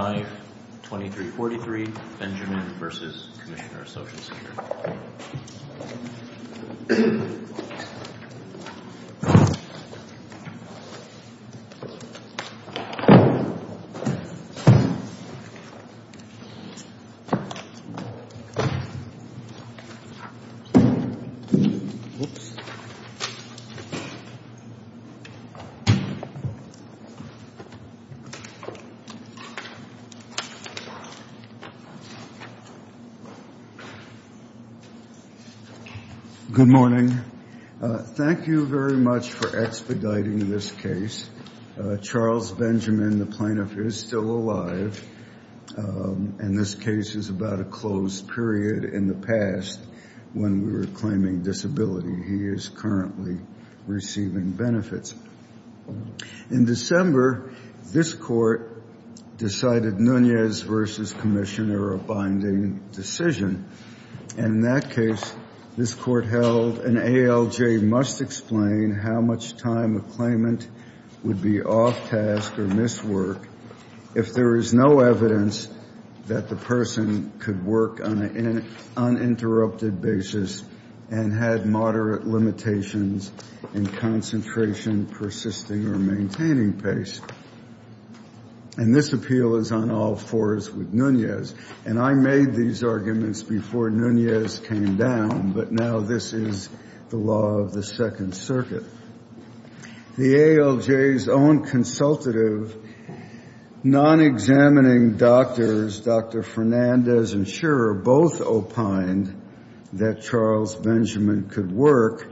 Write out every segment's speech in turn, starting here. Page 5, 2343 Benjamin v. Commissioner of Social Security Good morning. Thank you very much for expediting this case. Charles Benjamin, the plaintiff, is still alive, and this case is about a closed period in the past when we were claiming disability. He is currently receiving benefits. In December, this Court decided Nunez v. Commissioner of Binding Decision, and in that case, this Court held an ALJ must explain how much time a claimant would be off task or miss work if there is no evidence that the person could work on an uninterrupted basis and had moderate limitations in concentration, persisting, or maintaining pace. And this appeal is on all fours with Nunez. And I made these arguments before Nunez came down, but now this is the law of the Second Circuit. The ALJ's own consultative, non-examining doctors, Dr. Fernandez and Schurer, both opined that Charles Benjamin could work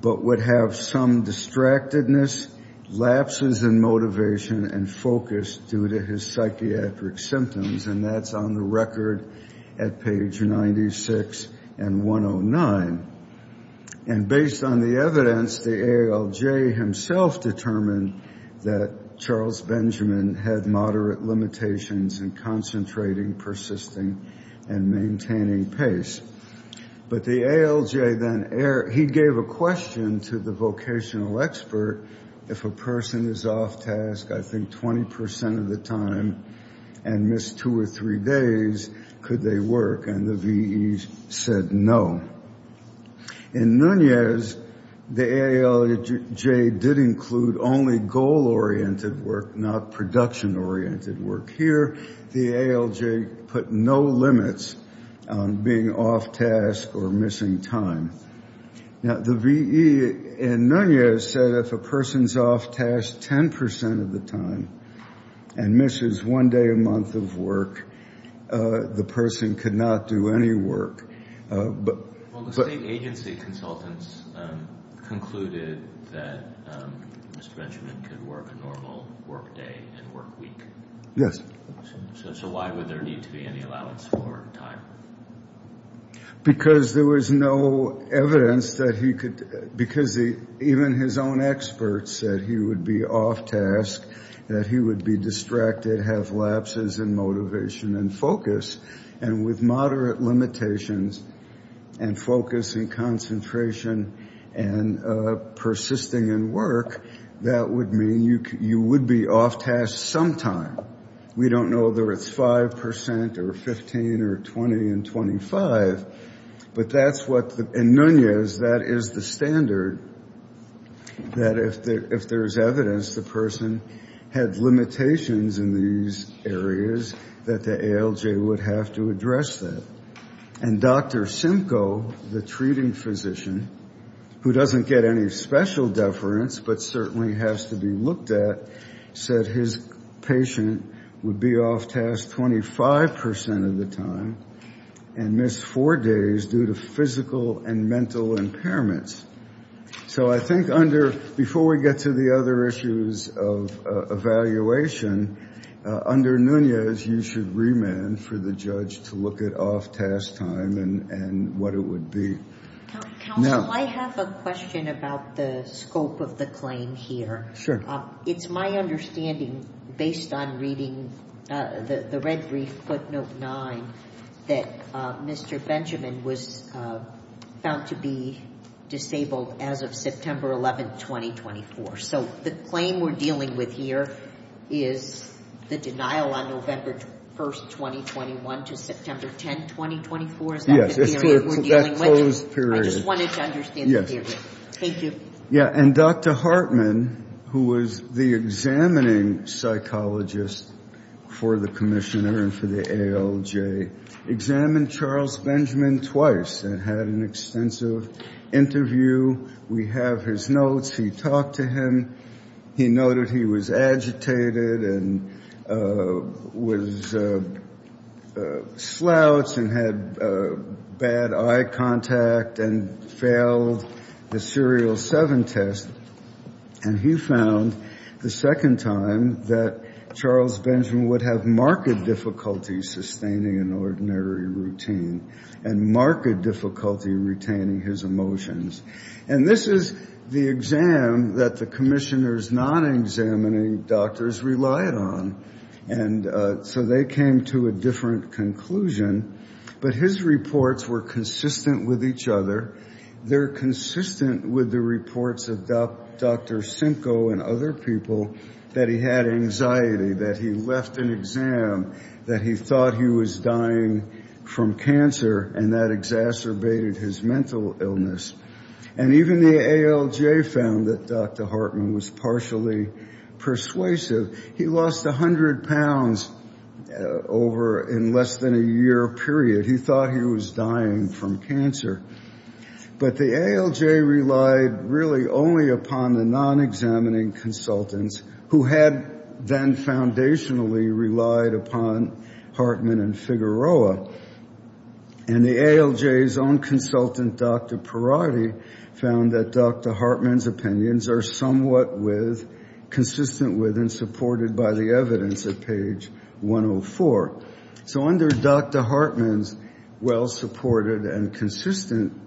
but would have some distractedness, lapses in motivation, and focus due to his psychiatric symptoms, and that's on the record at page 96 and 109. And based on the evidence, the ALJ himself determined that Charles Benjamin had moderate limitations in concentrating, persisting, and maintaining pace. But the ALJ then, he gave a question to the vocational expert, if a person is off task, I think, 20 percent of the time and missed two or three days, could they work? And the VEs said no. In Nunez, the ALJ did include only goal-oriented work, not production-oriented work. Here, the ALJ put no limits on being off task or missing time. Now, the VE in Nunez said if a person is off task 10 percent of the time and misses one day a month of work, the person could not do any work. Well, the state agency consultants concluded that Mr. Benjamin could work a normal work day and work week. Yes. So why would there need to be any allowance for time? Because there was no evidence that he could, because even his own experts said he would be off task, that he would be distracted, have lapses in motivation and focus. And with moderate limitations and focus and concentration and persisting in work, that would mean you would be off task sometime. We don't know whether it's 5 percent or 15 or 20 and 25, but that's what the — in Nunez, that is the standard, that if there's evidence the person had limitations in these areas, that the ALJ would have to address that. And Dr. Simcoe, the treating physician, who doesn't get any special deference but certainly has to be looked at, said his patient would be off task 25 percent of the time and miss four days due to physical and mental impairments. So I think under — before we get to the other issues of evaluation, under Nunez, you should remand for the judge to look at off task time and what it would be. Now — Counsel, I have a question about the scope of the claim here. Sure. It's my understanding, based on reading the red brief footnote 9, that Mr. Benjamin was found to be disabled as of September 11, 2024. So the claim we're dealing with here is the denial on November 1, 2021, to September 10, 2024. Is that the theory we're dealing with? I just wanted to understand the theory. Thank you. Yeah. And Dr. Hartman, who was the examining psychologist for the commissioner and for the ALJ, examined Charles Benjamin twice and had an extensive interview. We have his notes. He talked to him. He noted he was agitated and was — slouched and had bad eye contact and failed the Serial 7 test. And he found the second time that Charles Benjamin would have marked difficulty sustaining an ordinary routine and marked difficulty retaining his emotions. And this is the exam that the commissioners, non-examining doctors, relied on. And so they came to a different conclusion. But his reports were consistent with each other. They're consistent with the reports of Dr. Simcoe and other people that he had anxiety, that he left an exam, that he thought he was dying from cancer and that exacerbated his mental illness. And even the ALJ found that Dr. Hartman was partially persuasive. He lost 100 pounds over in less than a year period. He thought he was dying from cancer. But the ALJ relied really only upon the non-examining consultants who had then foundationally relied upon Hartman and Figueroa. And the ALJ's own consultant, Dr. Perotti, found that Dr. Hartman's opinions are somewhat with — consistent with and supported by the evidence at page 104. So under Dr. Hartman's well-supported and consistent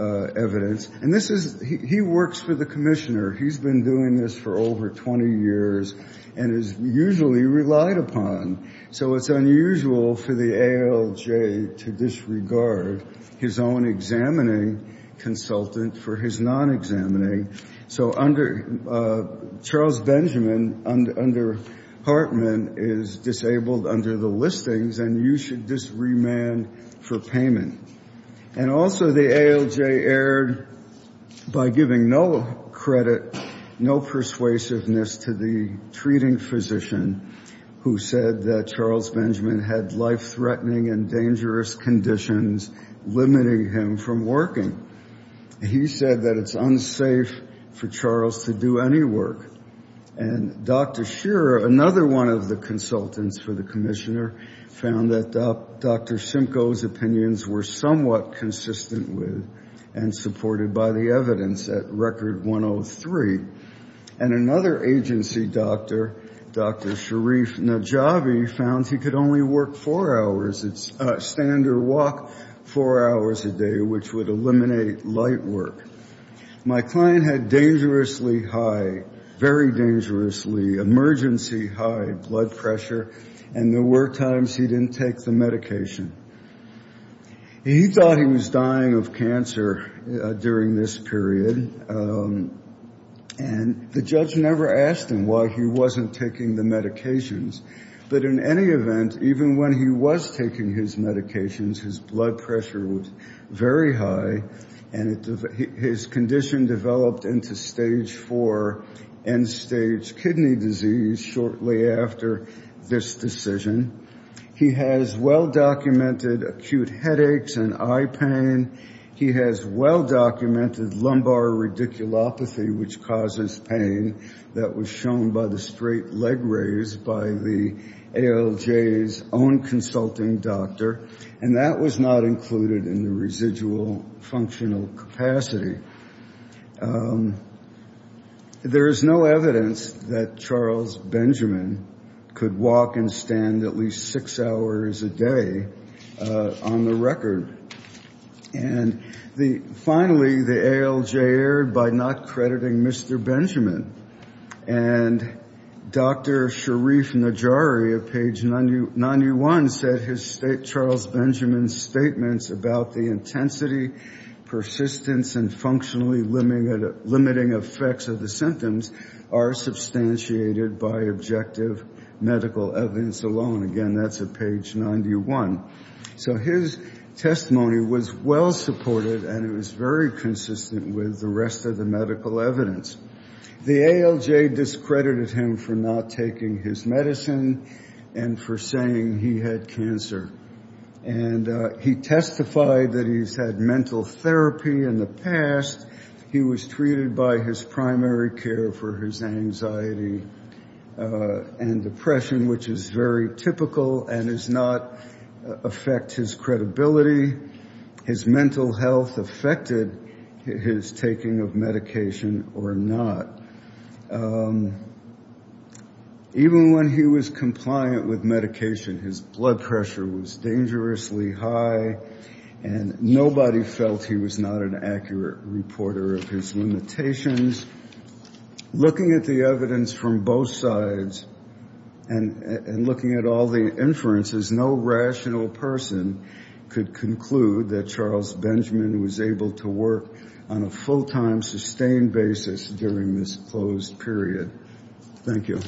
evidence — and this is — he works for the commissioner. He's been doing this for over 20 years and is usually relied upon. So it's unusual for the ALJ to disregard his own examining consultant for his non-examining. So under — Charles Benjamin, under Hartman, is disabled under the listings, and you should disremand for payment. And also the ALJ erred by giving no credit, no persuasiveness to the treating physician who said that Charles Benjamin had life-threatening and dangerous conditions limiting him from working. He said that it's unsafe for Charles to do any work. And Dr. Shearer, another one of the commissioner, found that Dr. Simcoe's opinions were somewhat consistent with and supported by the evidence at record 103. And another agency doctor, Dr. Sharif Najavi, found he could only work four hours — stand or walk four hours a day, which would eliminate light work. My client had dangerously high, very dangerously emergency-high blood pressure, and there were times he didn't take the medication. He thought he was dying of cancer during this period, and the judge never asked him why he wasn't taking the medications. But in any event, even when he was taking his medications, his blood pressure was very high, and his condition developed into stage 4, end-stage kidney disease shortly after this decision. He has well-documented acute headaches and eye pain. He has well-documented lumbar radiculopathy, which causes pain that was shown by the straight raise by the ALJ's own consulting doctor, and that was not included in the residual functional capacity. There is no evidence that Charles Benjamin could walk and stand at least six hours a day on the record. And finally, the ALJ erred by not crediting Mr. Benjamin. And Dr. Sharif Najavi, at page 91, said his — Charles Benjamin's statements about the intensity, persistence, and functionally limiting effects of the symptoms are substantiated by objective medical evidence alone. Again, that's at page 91. So his testimony was well-supported, and it was very consistent with the rest of the medical evidence. The ALJ discredited him for not taking his medicine and for saying he had cancer. And he testified that he's had mental therapy in the past. He was treated by his primary care for his anxiety and depression, which is very typical and does not affect his credibility. His mental health affected his taking of medication or not. Even when he was compliant with medication, his blood pressure was dangerously high, and nobody felt he was not an accurate reporter of his limitations. Looking at the evidence from both sides and looking at all the inferences, no rational person could conclude that Charles Benjamin was able to work on a full-time, sustained basis during this closed period. Thank you.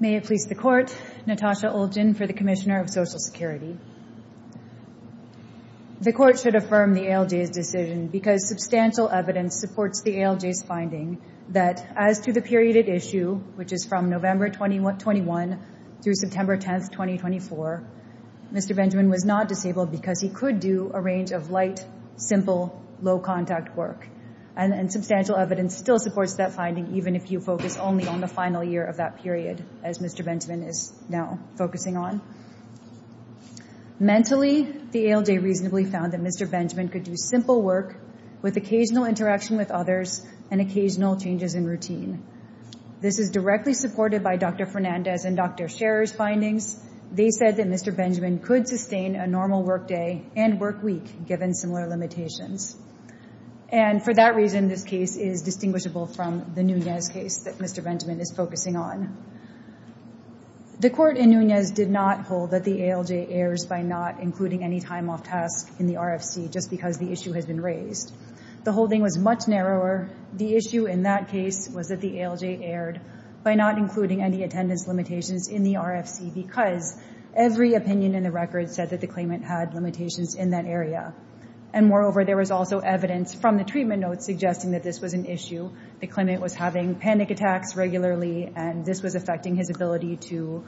May it please the Court. Natasha Olgin for the Commissioner of Social Security. The Court should affirm the ALJ's decision because substantial evidence supports the ALJ's finding that as to the period at issue, which is from November 21 through September 10, 2024, Mr. Benjamin was not disabled because he could do a range of light, simple, low-contact work. And substantial evidence still supports that finding, even if you focus only on the final year of that Mentally, the ALJ reasonably found that Mr. Benjamin could do simple work with occasional interaction with others and occasional changes in routine. This is directly supported by Dr. Fernandez and Dr. Sherer's findings. They said that Mr. Benjamin could sustain a normal workday and workweek given similar limitations. And for that reason, this case is distinguishable from the Nunez case that Mr. Benjamin is focusing on. The Court in Nunez did not hold that the ALJ errs by not including any time off task in the RFC, just because the issue has been raised. The holding was much narrower. The issue in that case was that the ALJ erred by not including any attendance limitations in the RFC because every opinion in the record said that the claimant had limitations in that area. And moreover, there was also evidence from the treatment notes suggesting that this was an issue. The claimant was having panic attacks regularly and this was affecting his ability to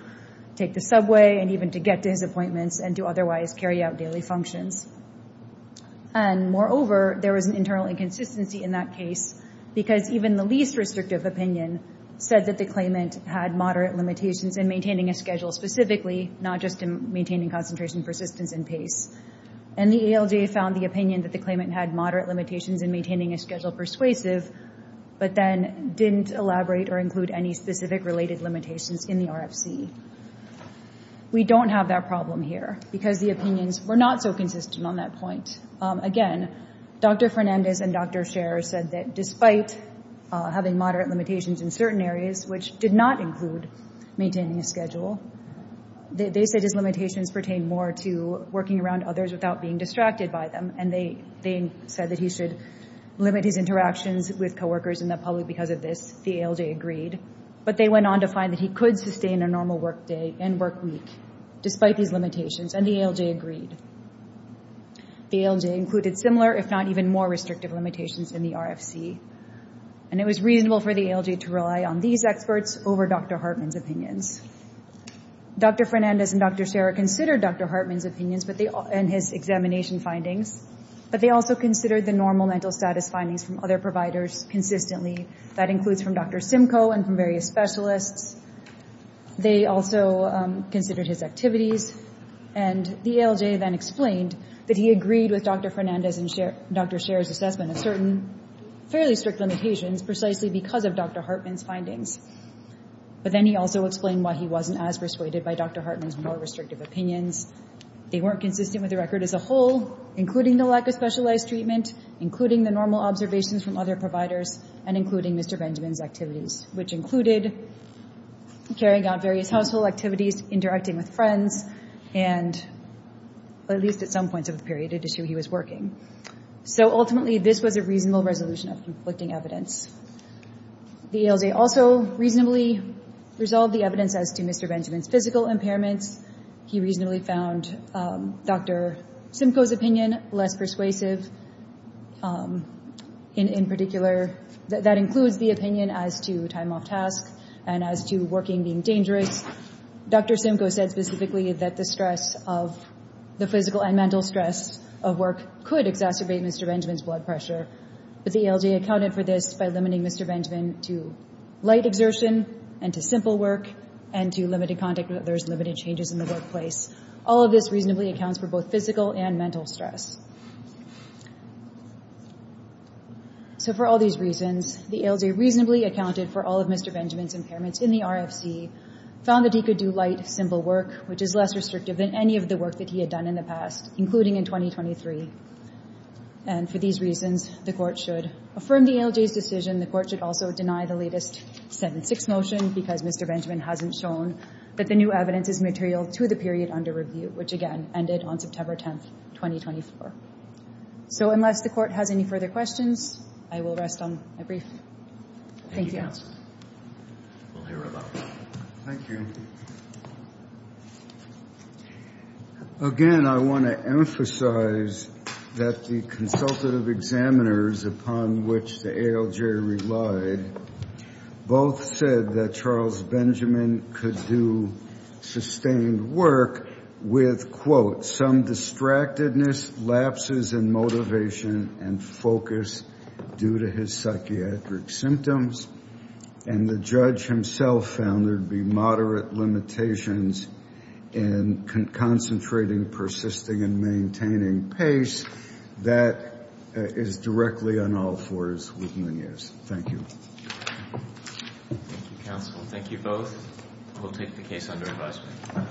take the subway and even to get to his appointments and to otherwise carry out daily functions. And moreover, there was an internal inconsistency in that case because even the least restrictive opinion said that the claimant had moderate limitations in maintaining a schedule specifically, not just in maintaining concentration, persistence, and pace. And the ALJ found the opinion that the claimant had moderate limitations in maintaining a schedule persuasive but then didn't elaborate or include any specific related limitations in the RFC. We don't have that problem here because the opinions were not so consistent on that point. Again, Dr. Fernandez and Dr. Sher said that despite having moderate limitations in certain areas, which did not include maintaining a schedule, they said his limitations pertain more to working around others without being distracted by them. And they said that he should limit his interactions with co-workers in the public because of this, the ALJ agreed, but they went on to find that he could sustain a normal work day and work week despite these limitations and the ALJ agreed. The ALJ included similar if not even more restrictive limitations in the RFC and it was reasonable for the ALJ to rely on these experts over Dr. Hartman's opinions. Dr. Fernandez and Dr. Sher considered Dr. Hartman's opinions and his examination findings, but they also considered the normal mental status findings from other providers consistently. That includes from Dr. Simcoe and from various specialists. They also considered his activities and the ALJ then explained that he agreed with Dr. Fernandez and Dr. Sher's assessment of certain fairly strict limitations precisely because of Dr. Hartman's findings. But then he also explained why he wasn't as persuaded by Dr. Hartman's more restrictive opinions. They weren't consistent with the record as a whole, including the lack of specialized treatment, including the normal observations from other providers, and including Mr. Benjamin's activities, which included carrying out various household activities, interacting with friends, and at least at some points of the period, it is true he was working. So ultimately, this was a reasonable resolution of conflicting evidence. The ALJ also reasonably resolved the evidence as to Mr. Benjamin's physical impairments. He reasonably found Dr. Simcoe's opinion less persuasive in particular. That includes the opinion as to time off task and as to working being dangerous. Dr. Simcoe said specifically that the stress of the physical and mental stress of work could exacerbate Mr. Benjamin's blood pressure, but the ALJ accounted for this by limiting Mr. Benjamin to light exertion and to limited contact with others, limited changes in the workplace. All of this reasonably accounts for both physical and mental stress. So for all these reasons, the ALJ reasonably accounted for all of Mr. Benjamin's impairments in the RFC, found that he could do light, simple work, which is less restrictive than any of the work that he had done in the past, including in 2023. And for these reasons, the court should affirm the ALJ's decision. The court should also deny the latest 7-6 motion because Mr. Benjamin hasn't shown that the new evidence is material to the period under review, which, again, ended on September 10th, 2024. So unless the court has any further questions, I will rest on my brief. Thank you. Thank you, counsel. We'll hear about that. Thank you. Again, I want to emphasize that the consultative examiners upon which the ALJ relied both said that Charles Benjamin could do sustained work with, quote, some distractedness, lapses in motivation, and focus due to his psychiatric symptoms. And the judge himself found there'd be moderate limitations in concentrating, persisting, and maintaining pace that is directly on all fours with Nunez. Thank you. Thank you, counsel. Thank you both. We'll take the case under advisement.